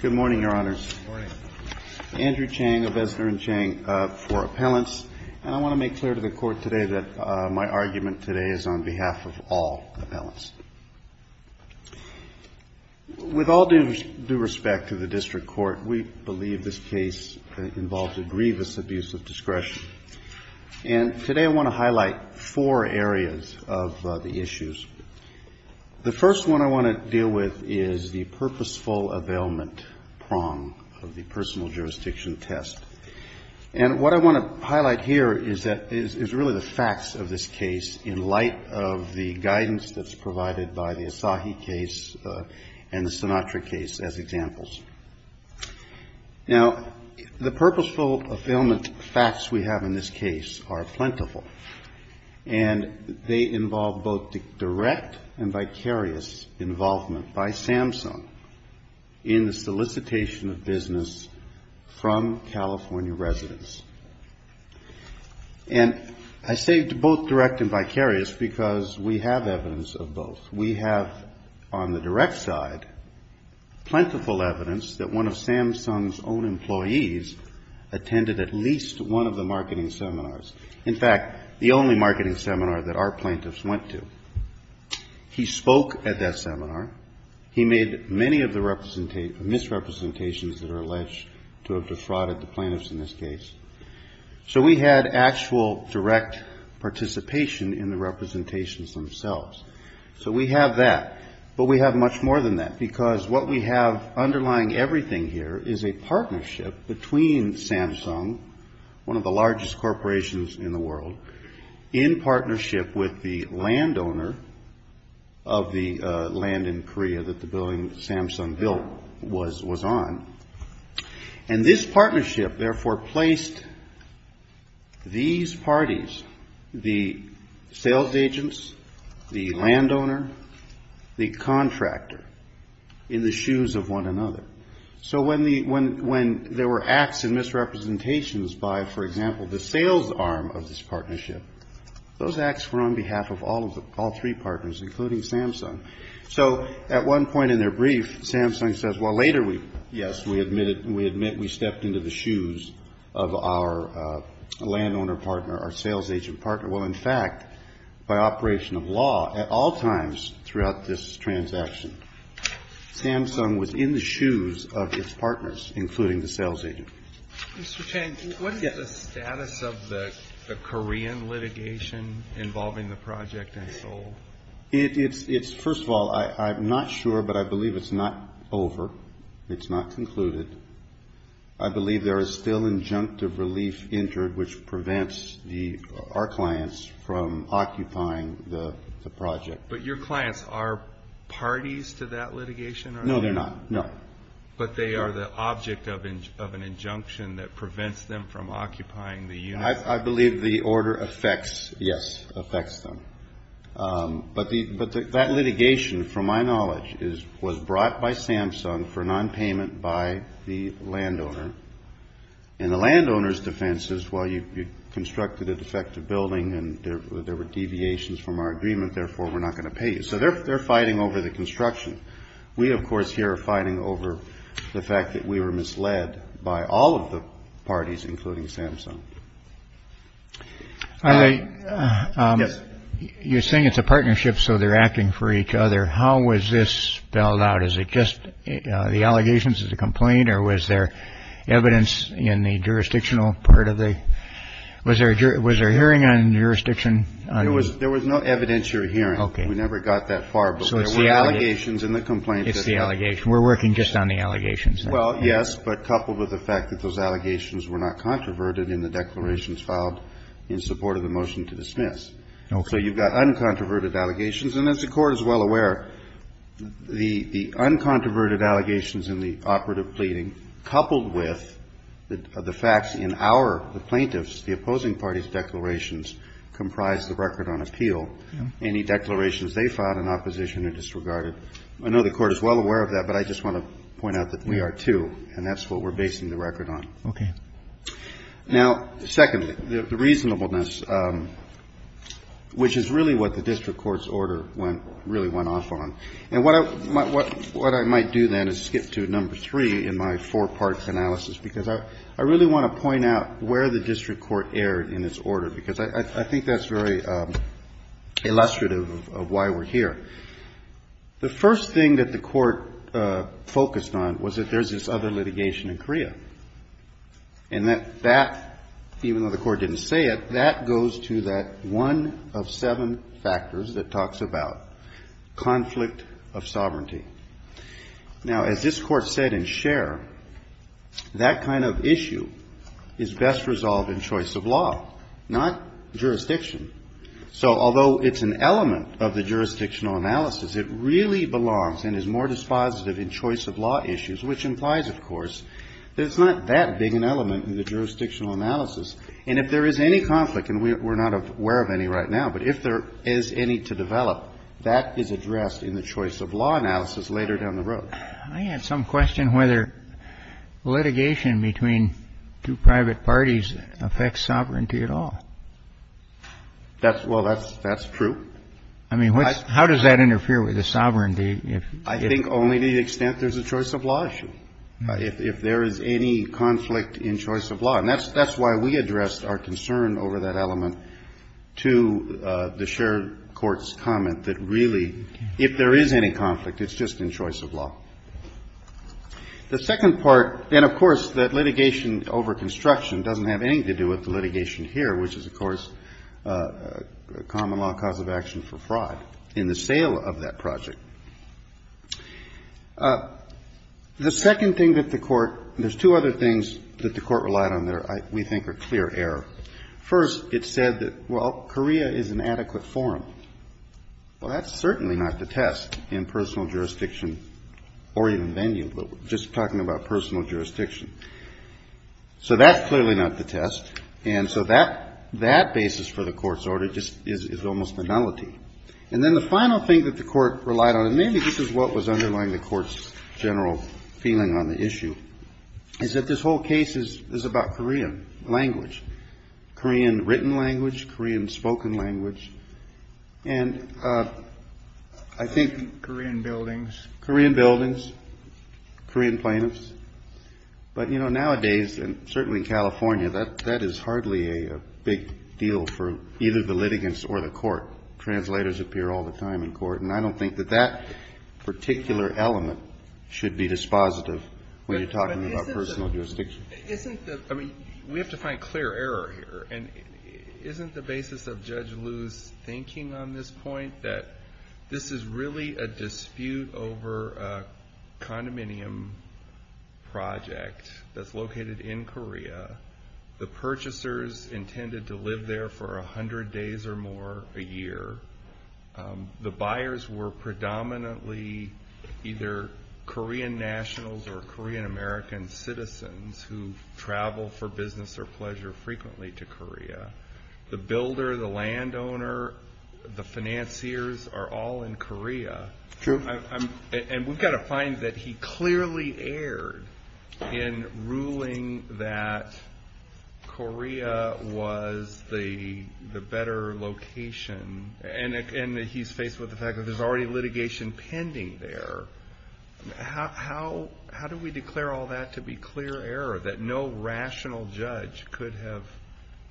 Good morning, Your Honors. Good morning. I'm Andrew Chang of Ezner and Chang for Appellants. And I want to make clear to the Court today that my argument today is on behalf of all appellants. With all due respect to the District Court, we believe this case involves a grievous abuse of discretion. And today I want to highlight four areas of the issues. The first one I want to deal with is the purposeful availment prong of the personal jurisdiction test. And what I want to highlight here is really the facts of this case in light of the guidance that's provided by the Asahi case and the Sinatra case as examples. Now, the purposeful availment facts we have in this case are plentiful. And they involve both direct and vicarious involvement by Samsung in the solicitation of business from California residents. And I say both direct and vicarious because we have evidence of both. We have on the direct side plentiful evidence that one of Samsung's own employees attended at least one of the marketing seminars. In fact, the only marketing seminar that our plaintiffs went to. He spoke at that seminar. He made many of the misrepresentations that are alleged to have defrauded the plaintiffs in this case. So we had actual direct participation in the representations themselves. So we have that. But we have much more than that because what we have underlying everything here is a partnership between Samsung, one of the largest corporations in the world, in partnership with the landowner of the land in Korea that the building Samsung built was on. And this partnership, therefore, placed these parties, the sales agents, the landowner, the contractor, in the shoes of one another. So when there were acts and misrepresentations by, for example, the sales arm of this partnership, those acts were on behalf of all three partners, including Samsung. So at one point in their brief, Samsung says, well, later, yes, we admit we stepped into the shoes of our landowner partner, our sales agent partner. Well, in fact, by operation of law, at all times throughout this transaction, Samsung was in the shoes of its partners, including the sales agent. Mr. Chang, what is the status of the Korean litigation involving the project in Seoul? It's, first of all, I'm not sure, but I believe it's not over. It's not concluded. I believe there is still injunctive relief entered, which prevents our clients from occupying the project. But your clients are parties to that litigation? No, they're not. No. But they are the object of an injunction that prevents them from occupying the unit? I believe the order affects, yes, affects them. But that litigation, from my knowledge, was brought by Samsung for nonpayment by the landowner. And the landowner's defense is, well, you constructed a defective building and there were deviations from our agreement, therefore we're not going to pay you. So they're fighting over the construction. We, of course, here are fighting over the fact that we were misled by all of the parties, including Samsung. I guess you're saying it's a partnership, so they're acting for each other. How was this spelled out? Is it just the allegations as a complaint or was there evidence in the jurisdictional part of the was there? Was there a hearing on jurisdiction? It was there was no evidentiary hearing. OK, we never got that far. So it's the allegations in the complaint. It's the allegation. We're working just on the allegations. Well, yes, but coupled with the fact that those allegations were not controverted in the declarations filed in support of the motion to dismiss. So you've got uncontroverted allegations. And as the Court is well aware, the uncontroverted allegations in the operative pleading, coupled with the facts in our, the plaintiffs, the opposing parties' declarations, comprise the record on appeal. Any declarations they filed in opposition are disregarded. I know the Court is well aware of that, but I just want to point out that we are, too, and that's what we're basing the record on. OK. Now, second, the reasonableness, which is really what the district court's order really went off on. And what I might do then is skip to number three in my four-part analysis because I really want to point out where the district court erred in its order because I think that's very illustrative of why we're here. The first thing that the Court focused on was that there's this other litigation in CREA. And that, even though the Court didn't say it, that goes to that one of seven factors that it talks about, conflict of sovereignty. Now, as this Court said in Scher, that kind of issue is best resolved in choice of law, not jurisdiction. So although it's an element of the jurisdictional analysis, it really belongs and is more dispositive in choice of law issues, which implies, of course, that it's not that big an element in the jurisdictional analysis. And if there is any conflict, and we're not aware of any right now, but if there is any to develop, that is addressed in the choice of law analysis later down the road. I had some question whether litigation between two private parties affects sovereignty at all. Well, that's true. I mean, how does that interfere with the sovereignty? I think only to the extent there's a choice of law issue. If there is any conflict in choice of law. And that's why we addressed our concern over that element to the Scher Court's comment that, really, if there is any conflict, it's just in choice of law. The second part, and, of course, that litigation over construction doesn't have anything to do with the litigation here, which is, of course, a common law cause of action for fraud in the sale of that project. The second thing that the Court – there's two other things that the Court relied on that we think are clear error. First, it said that, well, Korea is an adequate forum. Well, that's certainly not the test in personal jurisdiction or even venue, but just talking about personal jurisdiction. So that's clearly not the test. And so that basis for the Court's order just is almost a nullity. And then the final thing that the Court relied on, and maybe this is what was underlying the Court's general feeling on the issue, is that this whole case is about Korean language, Korean written language, Korean spoken language. And I think – Korean buildings. Korean buildings, Korean plaintiffs. But, you know, nowadays, and certainly in California, that is hardly a big deal for either the litigants or the Court. Translators appear all the time in Court. And I don't think that that particular element should be dispositive when you're talking about personal jurisdiction. Isn't the – I mean, we have to find clear error here. And isn't the basis of Judge Liu's thinking on this point that this is really a dispute over a condominium project that's located in Korea? The purchasers intended to live there for 100 days or more a year. The buyers were predominantly either Korean nationals or Korean American citizens who travel for business or pleasure frequently to Korea. The builder, the landowner, the financiers are all in Korea. True. And we've got to find that he clearly erred in ruling that Korea was the better location. And he's faced with the fact that there's already litigation pending there. How do we declare all that to be clear error, that no rational judge could have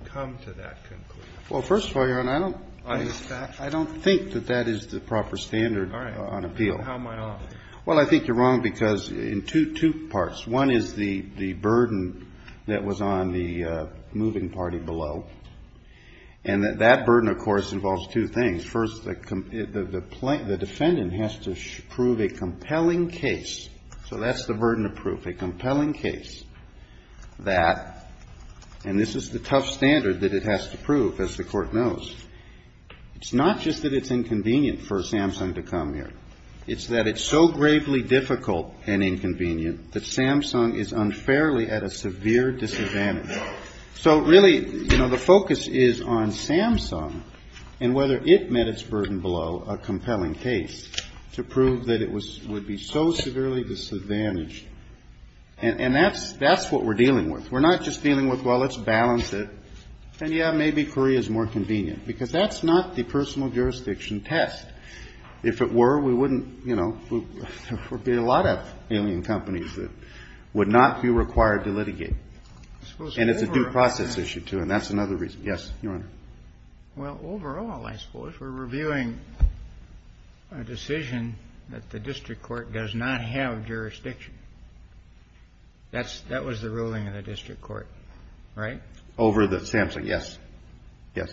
come to that conclusion? Well, first of all, Your Honor, I don't think that that is the proper standard on appeal. All right. How am I wrong? Well, I think you're wrong because in two parts. One is the burden that was on the moving party below. And that burden, of course, involves two things. First, the defendant has to prove a compelling case. So that's the burden of proof. A compelling case that, and this is the tough standard that it has to prove, as the Court knows. It's not just that it's inconvenient for Samsung to come here. It's that it's so gravely difficult and inconvenient that Samsung is unfairly at a severe disadvantage. So really, you know, the focus is on Samsung and whether it met its burden below a compelling case to prove that it would be so severely disadvantaged. And that's what we're dealing with. We're not just dealing with, well, let's balance it. And, yeah, maybe Korea is more convenient because that's not the personal jurisdiction test. If it were, we wouldn't, you know, there would be a lot of alien companies that would not be required to litigate. And it's a due process issue, too, and that's another reason. Yes, Your Honor. Well, overall, I suppose, we're reviewing a decision that the district court does not have jurisdiction. That was the ruling of the district court, right? Over the Samsung, yes. Yes.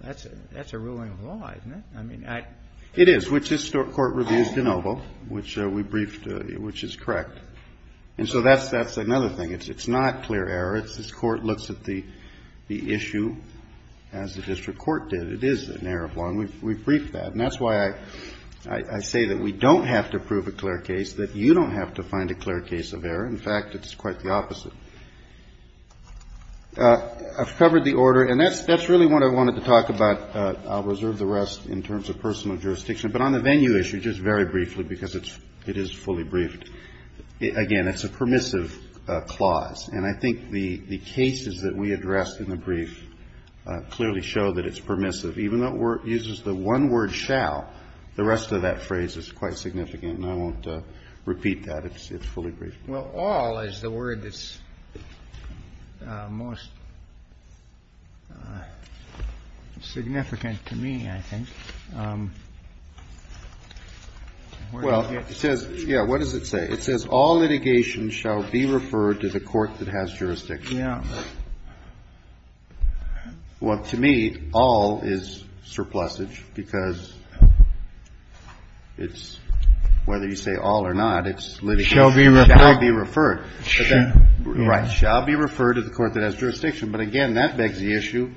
That's a ruling of law, isn't it? I mean, I. It is, which this Court reviews de novo, which we briefed, which is correct. And so that's another thing. It's not clear error. This Court looks at the issue as the district court did. It is an error of law, and we've briefed that. And that's why I say that we don't have to prove a clear case, that you don't have to find a clear case of error. In fact, it's quite the opposite. I've covered the order, and that's really what I wanted to talk about. I'll reserve the rest in terms of personal jurisdiction. But on the venue issue, just very briefly, because it is fully briefed, again, it's a permissive clause. And I think the cases that we addressed in the brief clearly show that it's permissive. Even though it uses the one word shall, the rest of that phrase is quite significant. And I won't repeat that. It's fully briefed. Well, all is the word that's most significant to me, I think. Well, it says, yeah, what does it say? It says all litigation shall be referred to the court that has jurisdiction. Yeah. Well, to me, all is surplusage because it's whether you say all or not, it's litigation. So the word shall be referred. Right. Shall be referred to the court that has jurisdiction. But again, that begs the issue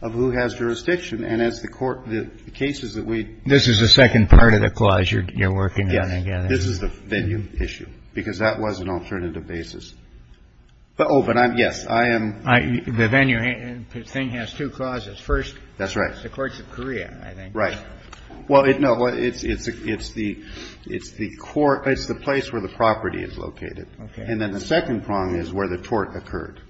of who has jurisdiction. And as the court, the cases that we ---- This is the second part of the clause you're working on, again. Yes. This is the venue issue, because that was an alternative basis. Oh, but I'm yes. I am ---- The venue thing has two clauses. First, the courts of Korea, I think. That's right. Right. Well, no, it's the court ---- It's the place where the property is located. Okay. And then the second prong is where the tort occurred.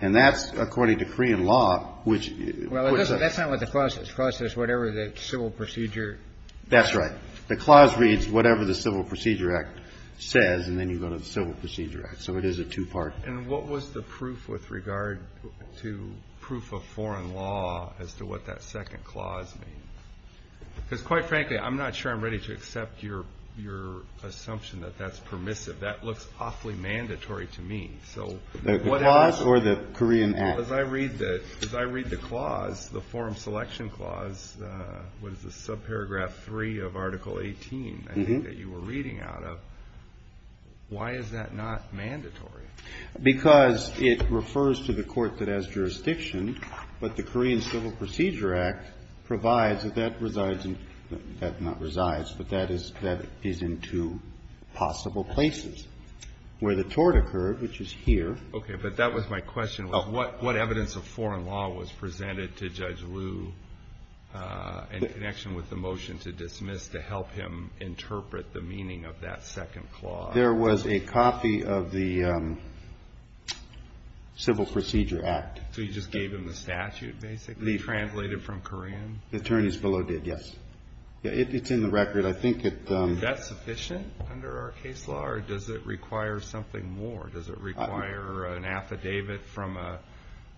And that's according to Korean law, which ---- Well, that's not what the clause says. The clause says whatever the civil procedure ---- That's right. The clause reads whatever the Civil Procedure Act says, and then you go to the Civil Procedure Act. So it is a two-part ---- Because, quite frankly, I'm not sure I'm ready to accept your assumption that that's permissive. That looks awfully mandatory to me. So what ---- The clause or the Korean Act? As I read the clause, the form selection clause, what is this, subparagraph 3 of Article 18, I think, that you were reading out of, why is that not mandatory? Because it refers to the court that has jurisdiction, but the Korean Civil Procedure Act provides that that resides in ---- that not resides, but that is in two possible places. Where the tort occurred, which is here ---- Okay. But that was my question. What evidence of foreign law was presented to Judge Liu in connection with the motion to dismiss to help him interpret the meaning of that second clause? There was a copy of the Civil Procedure Act. So you just gave him the statute, basically, translated from Korean? The attorneys below did, yes. It's in the record. I think it ---- Is that sufficient under our case law, or does it require something more? Does it require an affidavit from a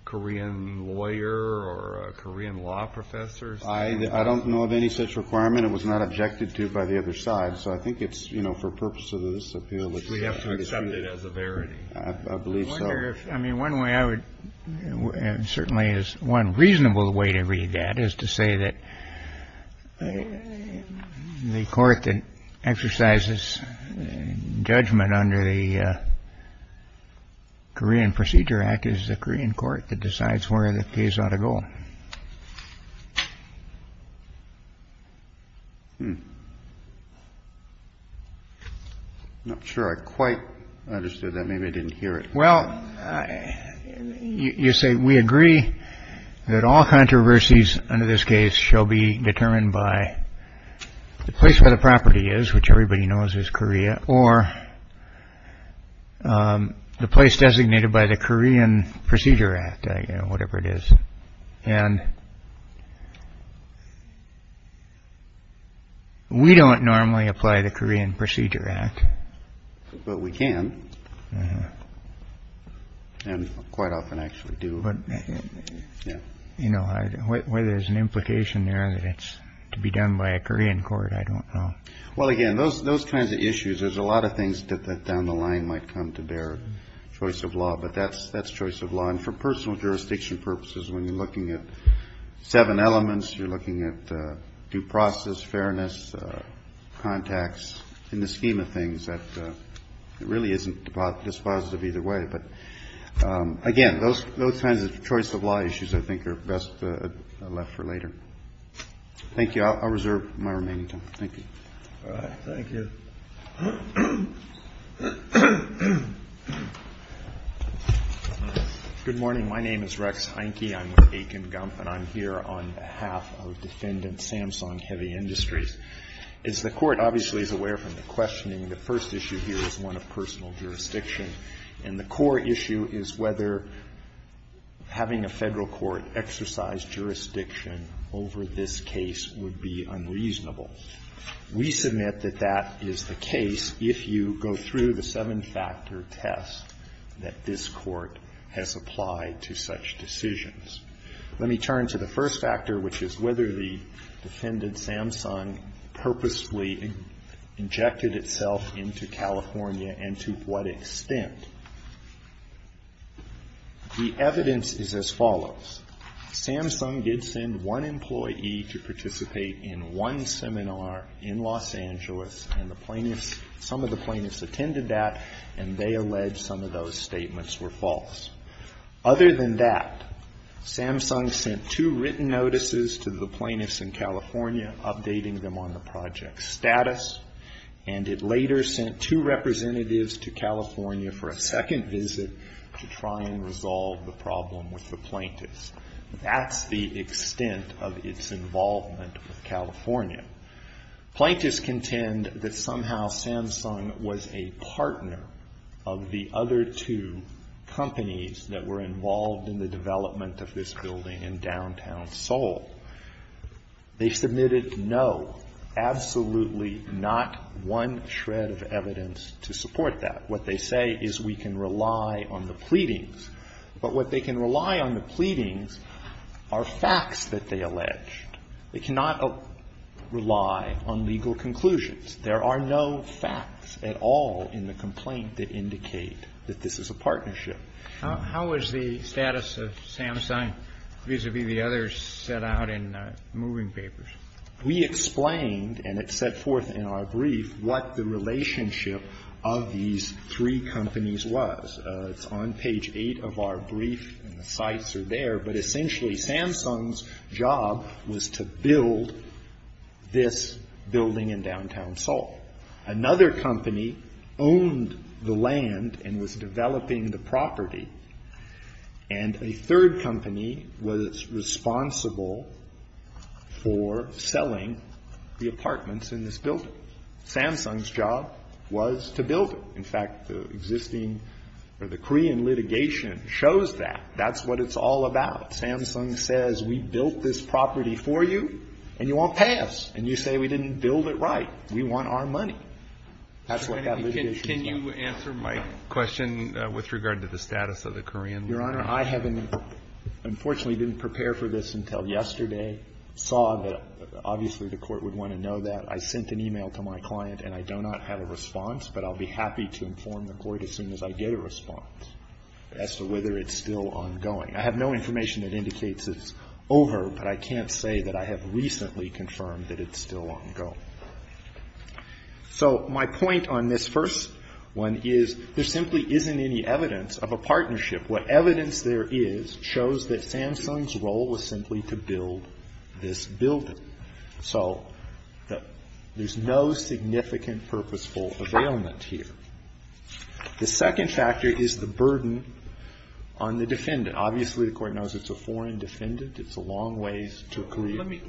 Korean lawyer or a Korean law professor? I don't know of any such requirement. It was not objected to by the other side. So I think it's, you know, for purposes of this appeal, it's ---- We have to accept it as a verity. I believe so. I wonder if ---- I mean, one way I would ---- certainly is one reasonable way to read that is to say that the court that exercises judgment under the Korean Procedure Act is the Korean court that decides where the case ought to go. I'm not sure I quite understood that. Maybe I didn't hear it. Well, you say we agree that all controversies under this case shall be determined by the place where the property is, which everybody knows is Korea, or the place designated by the Korean Procedure Act, whatever it is. And we don't normally apply the Korean Procedure Act. But we can and quite often actually do. But, you know, whether there's an implication there that it's to be done by a Korean court, I don't know. Well, again, those kinds of issues, there's a lot of things that down the line might come to bear, choice of law. But that's choice of law. And for personal jurisdiction purposes, when you're looking at seven elements, you're looking at due process, fairness, contacts, in the scheme of things that really isn't dispositive either way. But, again, those kinds of choice of law issues I think are best left for later. Thank you. I'll reserve my remaining time. Thank you. All right. Thank you. Good morning. My name is Rex Heinke. I'm with Aiken Gump, and I'm here on behalf of Defendant Samsung Heavy Industries. As the Court obviously is aware from the questioning, the first issue here is one of personal jurisdiction, and the core issue is whether having a Federal court exercise jurisdiction over this case would be unreasonable. We submit that that is the case if you go through the seven-factor test that this Let me turn to the first factor, which is whether the defendant, Samsung, purposely injected itself into California and to what extent. The evidence is as follows. Samsung did send one employee to participate in one seminar in Los Angeles, and the plaintiffs – some of the plaintiffs attended that, and they alleged some of those statements were false. Other than that, Samsung sent two written notices to the plaintiffs in California, updating them on the project's status, and it later sent two representatives to California for a second visit to try and resolve the problem with the plaintiffs. That's the extent of its involvement with California. Plaintiffs contend that somehow Samsung was a partner of the other two companies that were involved in the development of this building in downtown Seoul. They submitted no, absolutely not one shred of evidence to support that. What they say is we can rely on the pleadings. But what they can rely on the pleadings are facts that they alleged. They cannot rely on legal conclusions. There are no facts at all in the complaint that indicate that this is a partnership. How is the status of Samsung vis-à-vis the others set out in the moving papers? We explained, and it's set forth in our brief, what the relationship of these three companies was. It's on page 8 of our brief, and the sites are there. But essentially, Samsung's job was to build this building in downtown Seoul. Another company owned the land and was developing the property, and a third company was responsible for selling the apartments in this building. Samsung's job was to build it. In fact, the existing or the Korean litigation shows that. That's what it's all about. Samsung says, we built this property for you, and you won't pay us. And you say we didn't build it right. We want our money. That's what that litigation is about. Kennedy, can you answer my question with regard to the status of the Korean? Your Honor, I haven't been, unfortunately, didn't prepare for this until yesterday. Saw that, obviously, the Court would want to know that. I sent an e-mail to my client, and I do not have a response, but I'll be happy to inform the Court as soon as I get a response as to whether it's still ongoing. I have no information that indicates it's over, but I can't say that I have recently confirmed that it's still ongoing. So my point on this first one is there simply isn't any evidence of a partnership. What evidence there is shows that Samsung's role was simply to build this building. So there's no significant purposeful availment here. The second factor is the burden on the defendant. Obviously, the Court knows it's a foreign defendant. It's a long ways to clear. Let me,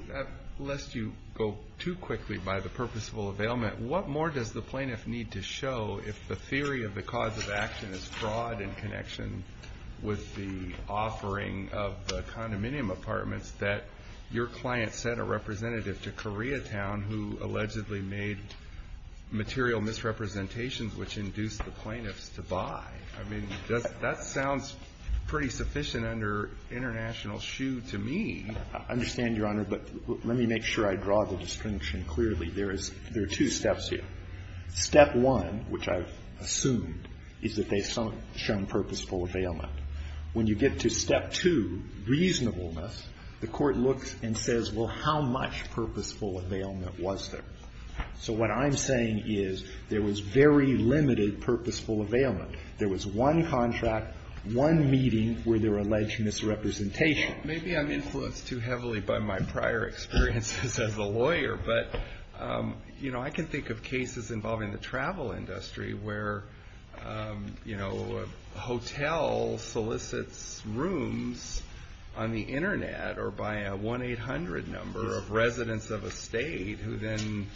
lest you go too quickly by the purposeful availment, what more does the plaintiff need to show if the theory of the cause of action is fraud in connection with the representative to Koreatown who allegedly made material misrepresentations which induced the plaintiffs to buy? I mean, that sounds pretty sufficient under international shoe to me. I understand, Your Honor, but let me make sure I draw the distinction clearly. There is two steps here. Step one, which I've assumed, is that they've shown purposeful availment. When you get to step two, reasonableness, the Court looks and says, well, how much purposeful availment was there? So what I'm saying is there was very limited purposeful availment. There was one contract, one meeting where there were alleged misrepresentations. Maybe I'm influenced too heavily by my prior experiences as a lawyer, but, you know, I can think of cases involving the travel industry where, you know, a hotel solicits rooms on the Internet or by a 1-800 number of residents of a state who then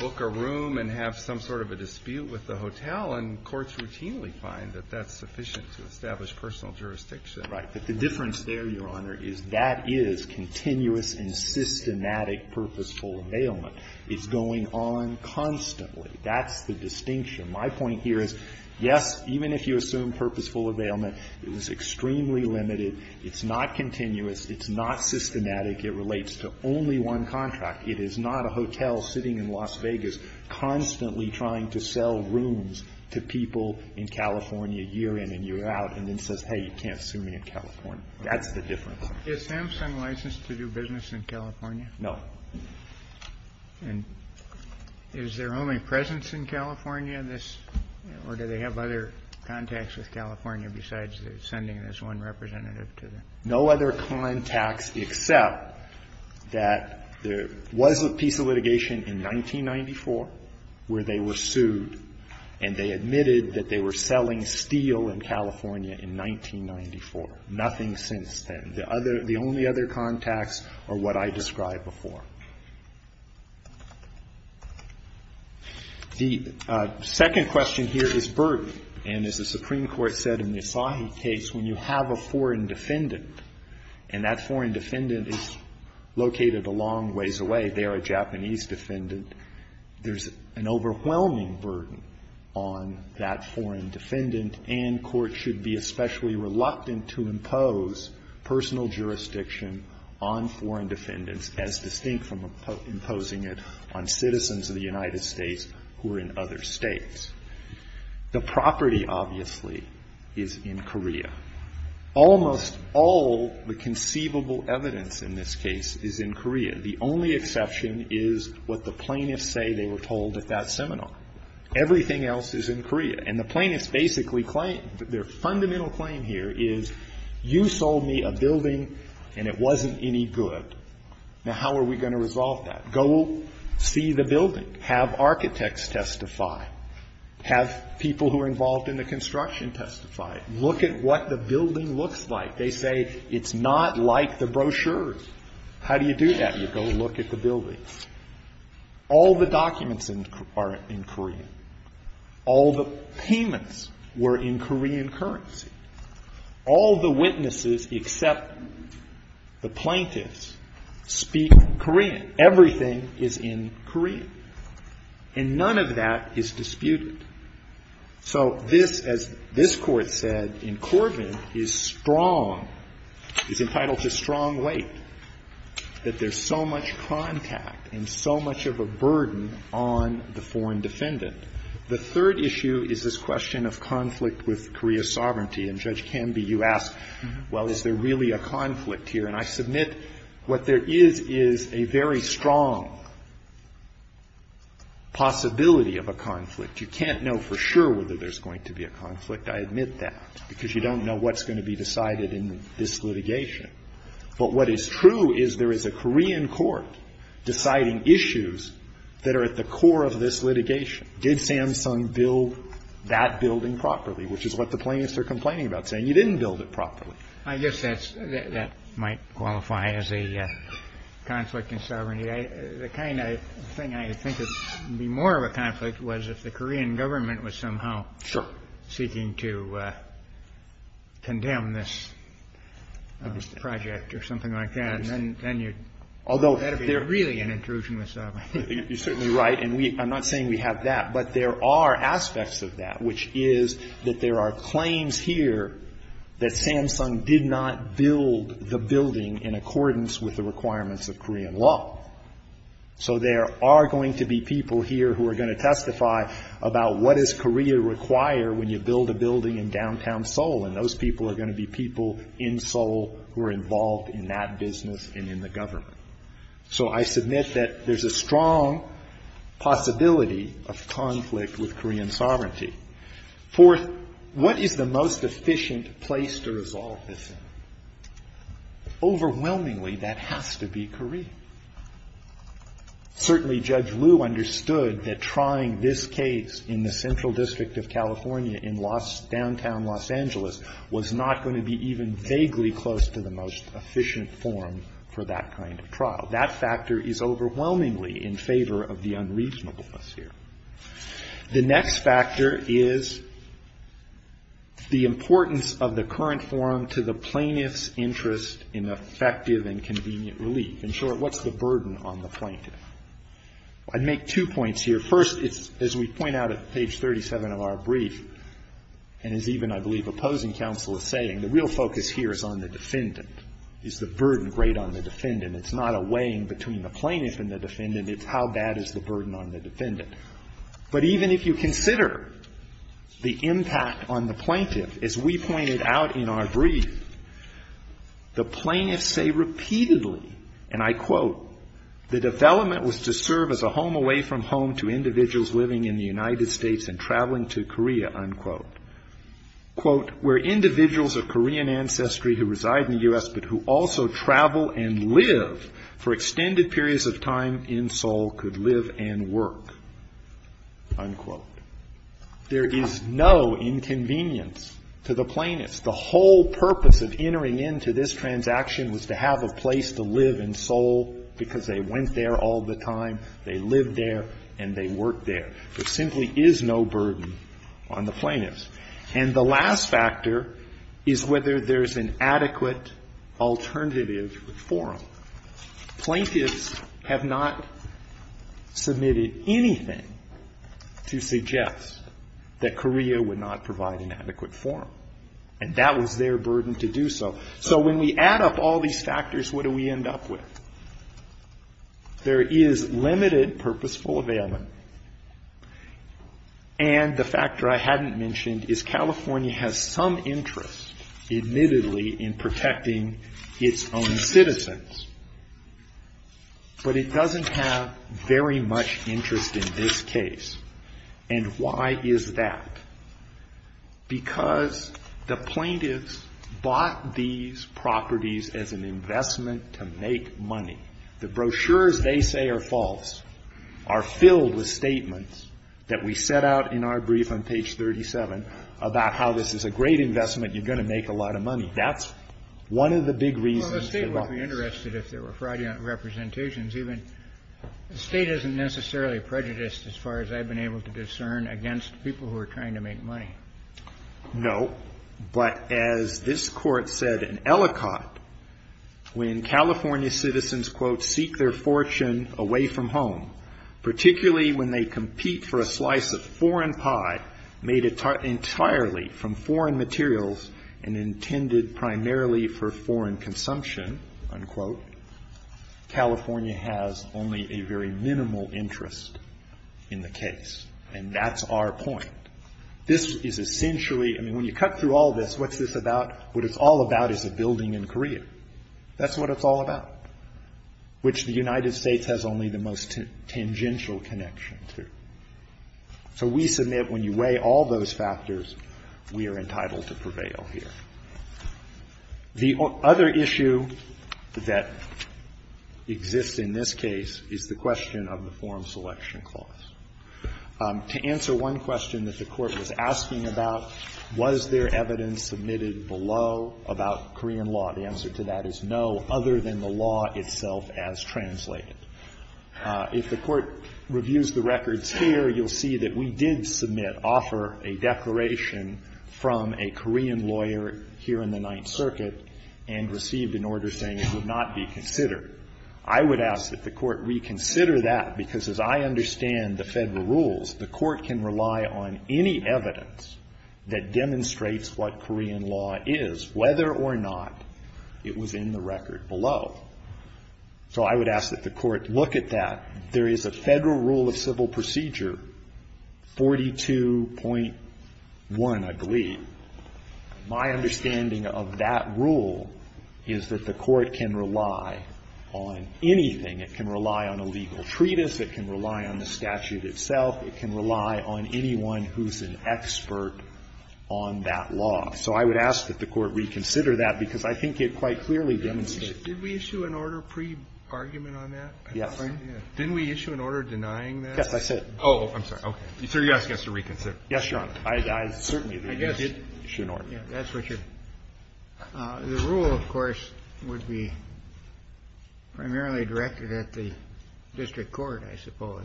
book a room and have some sort of a dispute with the hotel, and courts routinely find that that's sufficient to establish personal jurisdiction. Right, but the difference there, Your Honor, is that is continuous and systematic purposeful availment. It's going on constantly. That's the distinction. My point here is, yes, even if you assume purposeful availment, it is extremely limited. It's not continuous. It's not systematic. It relates to only one contract. It is not a hotel sitting in Las Vegas constantly trying to sell rooms to people in California year in and year out, and then says, hey, you can't sue me in California. That's the difference. Kennedy. Is SAMHSA licensed to do business in California? No. And is there only presence in California in this, or do they have other contacts with California besides sending this one representative to the? No other contacts except that there was a piece of litigation in 1994 where they were sued, and they admitted that they were selling steel in California in 1994. Nothing since then. The only other contacts are what I described before. The second question here is burden. And as the Supreme Court said in the Asahi case, when you have a foreign defendant and that foreign defendant is located a long ways away, they are a Japanese defendant, there's an overwhelming burden on that foreign defendant, and courts should be especially reluctant to impose personal jurisdiction on foreign defendants as distinct from imposing it on citizens of the United States who are in other states. The property, obviously, is in Korea. Almost all the conceivable evidence in this case is in Korea. The only exception is what the plaintiffs say they were told at that seminar. Everything else is in Korea. And the plaintiffs basically claim, their fundamental claim here is you sold me a building and it wasn't any good. Now, how are we going to resolve that? Go see the building. Have architects testify. Have people who are involved in the construction testify. Look at what the building looks like. They say it's not like the brochures. How do you do that? You go look at the building. All the documents are in Korea. All the payments were in Korean currency. All the witnesses except the plaintiffs speak Korean. Everything is in Korean. And none of that is disputed. So this, as this Court said in Corvin, is strong, is entitled to strong weight, that there's so much contact and so much of a burden on the foreign defendant. The third issue is this question of conflict with Korea's sovereignty. And, Judge Canby, you ask, well, is there really a conflict here? And I submit what there is is a very strong possibility of a conflict. You can't know for sure whether there's going to be a conflict. I admit that, because you don't know what's going to be decided in this litigation. But what is true is there is a Korean court deciding issues that are at the core of this litigation. Did Samsung build that building properly? Which is what the plaintiffs are complaining about, saying you didn't build it properly. I guess that might qualify as a conflict in sovereignty. The kind of thing I think would be more of a conflict was if the Korean government was somehow seeking to condemn this. I don't know if that's a part of the Korean government's project or something like that. And then you'd have to be really an intrusionist. You're certainly right. And I'm not saying we have that. But there are aspects of that, which is that there are claims here that Samsung did not build the building in accordance with the requirements of Korean law. So there are going to be people here who are going to testify about what does Korea require when you build a building in downtown Seoul. And those people are going to be people in Seoul who are involved in that business and in the government. So I submit that there's a strong possibility of conflict with Korean sovereignty. Fourth, what is the most efficient place to resolve this thing? Overwhelmingly, that has to be Korea. Certainly Judge Liu understood that trying this case in the central district of California in downtown Los Angeles was not going to be even vaguely close to the most efficient forum for that kind of trial. That factor is overwhelmingly in favor of the unreasonableness here. The next factor is the importance of the current forum to the plaintiff's interest in effective and convenient relief. In short, what's the burden on the plaintiff? I'd make two points here. First, it's, as we point out at page 37 of our brief, and as even, I believe, opposing counsel is saying, the real focus here is on the defendant. Is the burden great on the defendant? It's not a weighing between the plaintiff and the defendant. It's how bad is the burden on the defendant. But even if you consider the impact on the plaintiff, as we pointed out in our brief, the plaintiffs say repeatedly, and I quote, the development was to serve as a home away from home to individuals living in the United States and traveling to Korea, unquote, quote, where individuals of Korean ancestry who reside in the U.S. but who also travel and live for extended periods of time in Seoul could live and work, unquote. There is no inconvenience to the plaintiffs. The whole purpose of entering into this transaction was to have a place to live in Seoul because they went there all the time, they lived there, and they worked there. There simply is no burden on the plaintiffs. And the last factor is whether there's an adequate alternative forum. Plaintiffs have not submitted anything to suggest that Korea would not provide an adequate forum. And that was their burden to do so. So when we add up all these factors, what do we end up with? There is limited purposeful availability. And the factor I hadn't mentioned is California has some interest, admittedly, in protecting its own citizens, but it doesn't have very much interest in this case. And why is that? Because the plaintiffs bought these properties as an investment to make money. The brochures they say are false, are filled with statements that we set out in our brief on page 37 about how this is a great investment, you're going to make a lot of money. That's one of the big reasons. Well, the State would be interested if there were fraudulent representations. Even the State isn't necessarily prejudiced, as far as I've been able to discern, against people who are trying to make money. No. But as this Court said in Ellicott, when California citizens, quote, seek their fortune away from home, particularly when they compete for a slice of foreign pie made entirely from foreign materials and intended primarily for foreign consumption, unquote, California has only a very minimal interest in the case. And that's our point. This is essentially, I mean, when you cut through all this, what's this about? What it's all about is a building in Korea. That's what it's all about, which the United States has only the most tangential connection to. So we submit when you weigh all those factors, we are entitled to prevail here. The other issue that exists in this case is the question of the form selection clause. To answer one question that the Court was asking about, was there evidence submitted below about Korean law? The answer to that is no, other than the law itself as translated. If the Court reviews the records here, you'll see that we did submit, offer a declaration from a Korean lawyer here in the Ninth Circuit and received an order saying it would not be considered. I would ask that the Court reconsider that, because as I understand the Federal rules, the Court can rely on any evidence that demonstrates what Korean law is, whether or not it was in the record below. So I would ask that the Court look at that. There is a Federal rule of civil procedure 42.1, I believe. My understanding of that rule is that the Court can rely on anything. It can rely on a legal treatise. It can rely on the statute itself. It can rely on anyone who's an expert on that law. So I would ask that the Court reconsider that, because I think it quite clearly demonstrates. Did we issue an order pre-argument on that? Yes. Didn't we issue an order denying that? Yes, I said it. Oh, I'm sorry. Okay. So you're asking us to reconsider. Yes, Your Honor. I certainly did issue an order. Yes, that's what you're. The rule, of course, would be primarily directed at the district court, I suppose,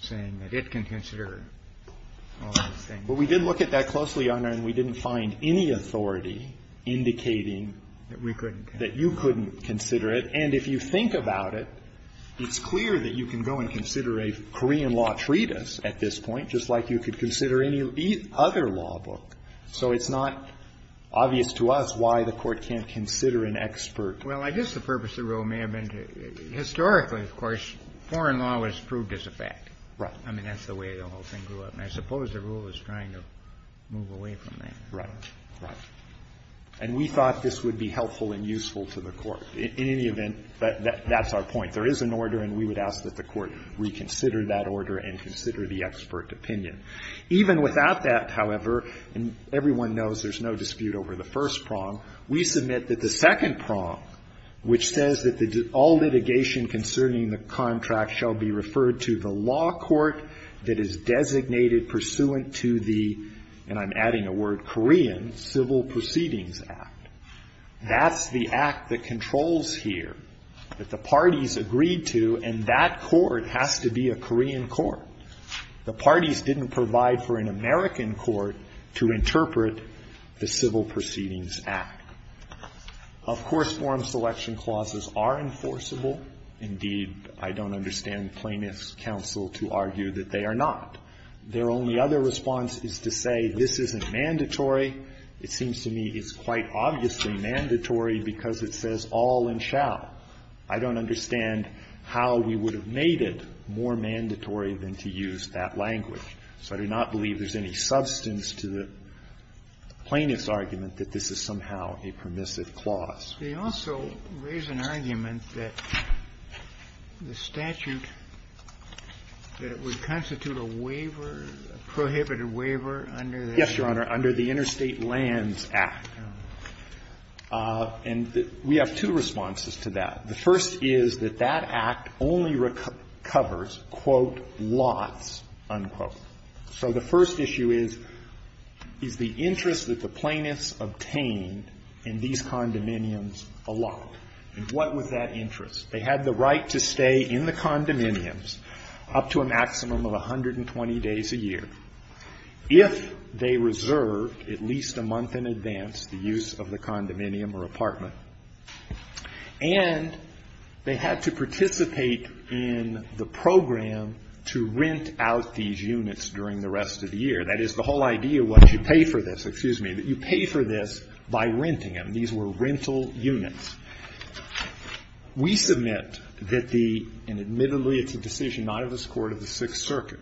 saying that it can consider all those things. But we did look at that closely, Your Honor, and we didn't find any authority indicating that you couldn't consider it. We couldn't. And if you think about it, it's clear that you can go and consider a Korean law treatise at this point, just like you could consider any other law book. So it's not obvious to us why the Court can't consider an expert. Well, I guess the purpose of the rule may have been to – historically, of course, foreign law was proved as a fact. Right. I mean, that's the way the whole thing grew up. And I suppose the rule is trying to move away from that. Right. Right. And we thought this would be helpful and useful to the Court. In any event, that's our point. There is an order, and we would ask that the Court reconsider that order and consider the expert opinion. Even without that, however, and everyone knows there's no dispute over the first prong, we submit that the second prong, which says that all litigation concerning the contract shall be referred to the law court that is designated pursuant to the – and I'm adding a word – Korean Civil Proceedings Act. That's the act that controls here, that the parties agreed to, and that court has to be a Korean court. The parties didn't provide for an American court to interpret the Civil Proceedings Act. Of course, forum selection clauses are enforceable. Indeed, I don't understand plaintiff's counsel to argue that they are not. Their only other response is to say this isn't mandatory. It seems to me it's quite obviously mandatory because it says all and shall. I don't understand how we would have made it more mandatory than to use that language. So I do not believe there's any substance to the plaintiff's argument that this is somehow a permissive clause. They also raise an argument that the statute, that it would constitute a waiver, a prohibited waiver under the Interstate Lands Act. And we have two responses to that. The first is that that act only recovers, quote, lots, unquote. So the first issue is, is the interest that the plaintiffs obtained in these condominiums a lot? And what was that interest? They had the right to stay in the condominiums up to a maximum of 120 days a year if they reserved at least a month in advance the use of the condominium or apartment. And they had to participate in the program to rent out these units during the rest of the year. That is, the whole idea was you pay for this. Excuse me. You pay for this by renting them. These were rental units. We submit that the – and admittedly, it's a decision not of this Court of the Sixth Circuit,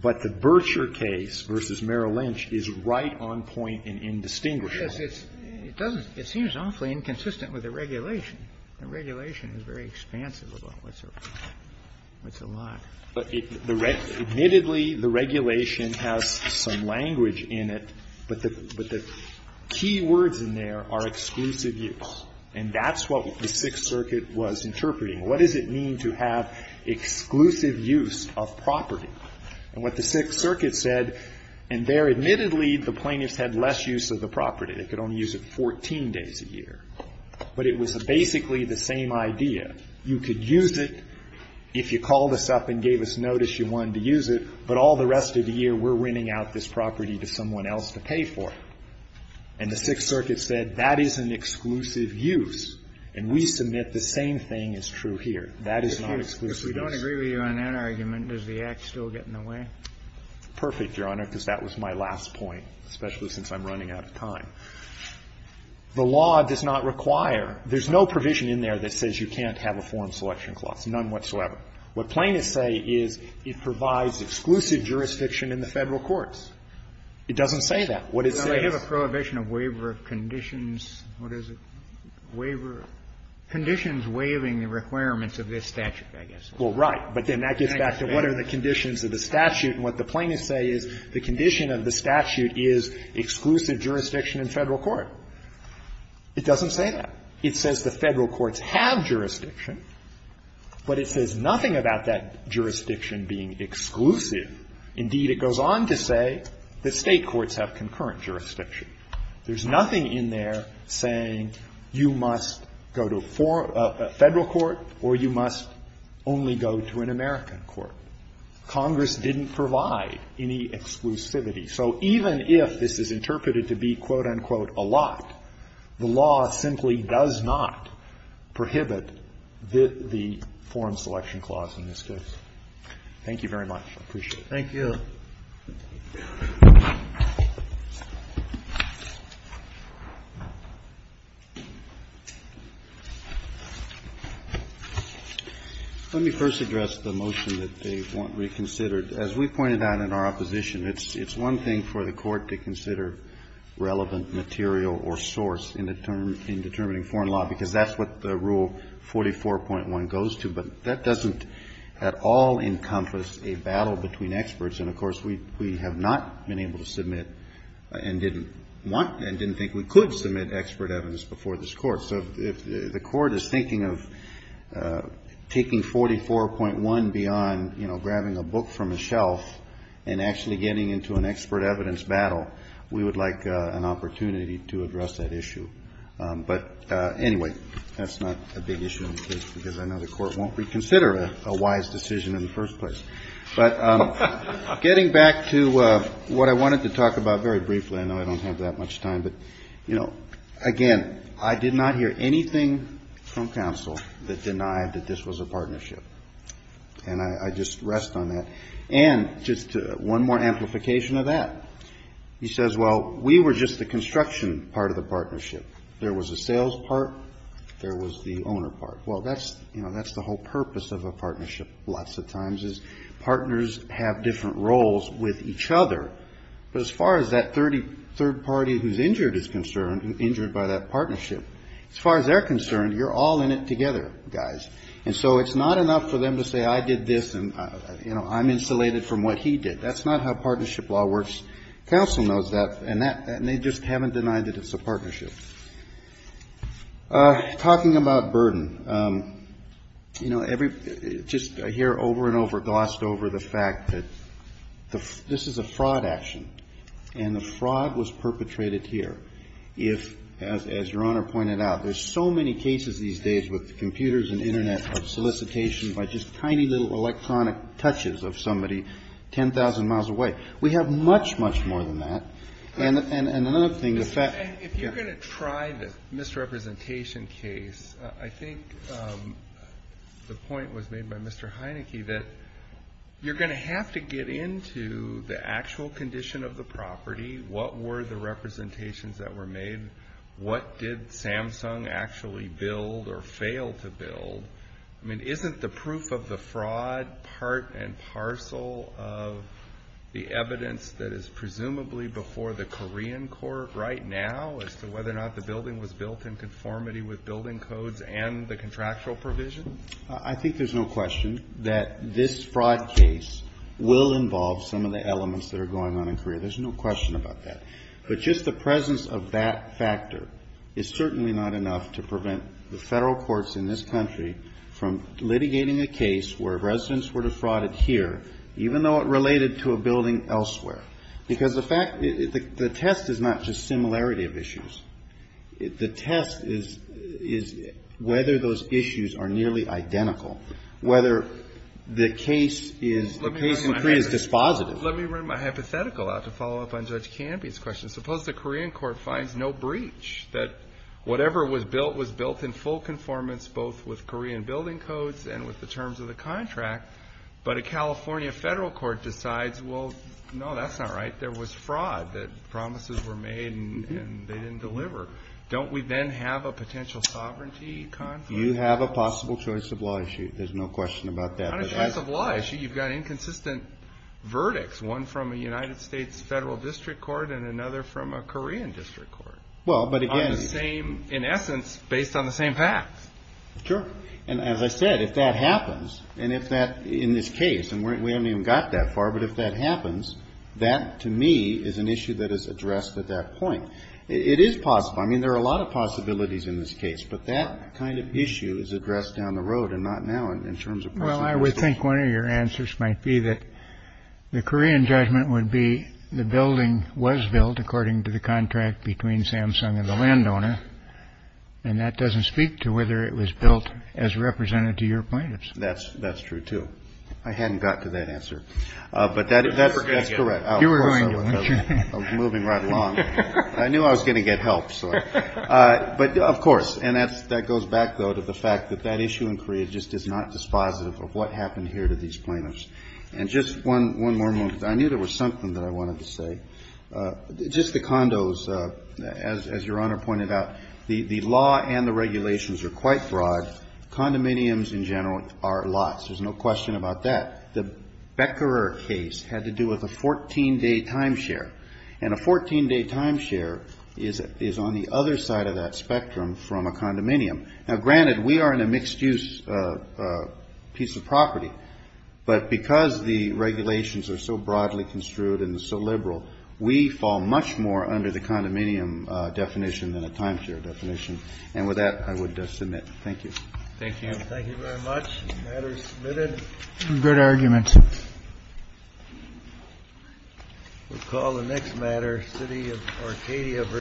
but the Berkshire case versus Merrill Lynch is right on point and indistinguishable. It seems awfully inconsistent with the regulation. The regulation is very expansive about what's a lot. Admittedly, the regulation has some language in it. But the key words in there are exclusive use. And that's what the Sixth Circuit was interpreting. What does it mean to have exclusive use of property? And what the Sixth Circuit said, and there, admittedly, the plaintiffs had less use of the property. They could only use it 14 days a year. But it was basically the same idea. You could use it if you called us up and gave us notice you wanted to use it, but all the rest of the year we're renting out this property to someone else to pay for it. And the Sixth Circuit said that is an exclusive use. That is not exclusive use. We don't agree with you on that argument. Does the act still get in the way? Perfect, Your Honor, because that was my last point, especially since I'm running out of time. The law does not require – there's no provision in there that says you can't have a form selection clause, none whatsoever. What plaintiffs say is it provides exclusive jurisdiction in the Federal courts. It doesn't say that. What it says is – Well, they have a prohibition of waiver conditions. What is it? Waiver – conditions waiving the requirements of this statute, I guess. Well, right. But then that gets back to what are the conditions of the statute. And what the plaintiffs say is the condition of the statute is exclusive jurisdiction in Federal court. It doesn't say that. It says the Federal courts have jurisdiction, but it says nothing about that jurisdiction being exclusive. Indeed, it goes on to say that State courts have concurrent jurisdiction. There's nothing in there saying you must go to a Federal court or you must only go to an American court. Congress didn't provide any exclusivity. So even if this is interpreted to be, quote, unquote, a lot, the law simply does not prohibit the form selection clause in this case. Thank you very much. I appreciate it. Let me first address the motion that they want reconsidered. As we pointed out in our opposition, it's one thing for the Court to consider relevant material or source in determining foreign law, because that's what the Rule 44.1 goes to. But that doesn't at all encompass a battle between experts. And, of course, we have not been able to submit and didn't want and didn't think we could submit expert evidence before this Court. So if the Court is thinking of taking 44.1 beyond, you know, grabbing a book from a shelf and actually getting into an expert evidence battle, we would like an opportunity to address that issue. But, anyway, that's not a big issue in this case, because I know the Court won't reconsider a wise decision in the first place. But getting back to what I wanted to talk about very briefly, I know I don't have that much time, but, you know, again, I did not hear anything from counsel that denied that this was a partnership. And I just rest on that. And just one more amplification of that, he says, well, we were just the construction part of the partnership. There was a sales part. There was the owner part. Well, that's, you know, that's the whole purpose of a partnership lots of times is partners have different roles with each other. But as far as that third party who's injured is concerned, injured by that partnership, as far as they're concerned, you're all in it together, guys. And so it's not enough for them to say I did this and, you know, I'm insulated from what he did. That's not how partnership law works. Counsel knows that. And they just haven't denied that it's a partnership. Talking about burden. You know, just I hear over and over glossed over the fact that this is a fraud action. And the fraud was perpetrated here. If, as your Honor pointed out, there's so many cases these days with computers and Internet of solicitation by just tiny little electronic touches of somebody 10,000 miles away. We have much, much more than that. And another thing. If you're going to try the misrepresentation case, I think the point was made by Mr. Heineke that you're going to have to get into the actual condition of the property. What were the representations that were made? What did Samsung actually build or fail to build? I mean, isn't the proof of the fraud part and parcel of the evidence that is presumably before the Korean court right now as to whether or not the building was built in conformity with building codes and the contractual provision? I think there's no question that this fraud case will involve some of the elements that are going on in Korea. There's no question about that. But just the presence of that factor is certainly not enough to prevent the Federal courts in this country from litigating a case where residents were defrauded here, even though it related to a building elsewhere. Because the test is not just similarity of issues. The test is whether those issues are nearly identical, whether the case in Korea is dispositive. Let me run my hypothetical out to follow up on Judge Canby's question. Suppose the Korean court finds no breach that whatever was built was built in full conformance both with Korean building codes and with the terms of the contract. But a California Federal court decides, well, no, that's not right. There was fraud. Promises were made and they didn't deliver. Don't we then have a potential sovereignty conflict? You have a possible choice of law issue. There's no question about that. Not a choice of law issue. You've got inconsistent verdicts. One from a United States Federal district court and another from a Korean district court. Well, but again. On the same, in essence, based on the same facts. Sure. And as I said, if that happens, and if that in this case, and we haven't even got that far, but if that happens, that to me is an issue that is addressed at that point. It is possible. I mean, there are a lot of possibilities in this case. But that kind of issue is addressed down the road and not now in terms of precedent. Well, I would think one of your answers might be that the Korean judgment would be the building was built according to the contract between Samsung and the landowner. And that doesn't speak to whether it was built as represented to your point. That's that's true, too. I hadn't got to that answer. But that is correct. You were right. Moving right along. I knew I was going to get help. But, of course, and that goes back, though, to the fact that that issue in Korea just is not dispositive of what happened here to these plaintiffs. And just one more moment. I knew there was something that I wanted to say. Just the condos, as your Honor pointed out, the law and the regulations are quite broad. Condominiums in general are lots. There's no question about that. The Becker case had to do with a 14-day timeshare. And a 14-day timeshare is on the other side of that spectrum from a condominium. Now, granted, we are in a mixed-use piece of property. But because the regulations are so broadly construed and so liberal, we fall much more under the condominium definition than a timeshare definition. And with that, I would submit. Thank you. Thank you. Thank you very much. The matter is submitted. Good argument. We'll call the next matter. City of Arcadia v.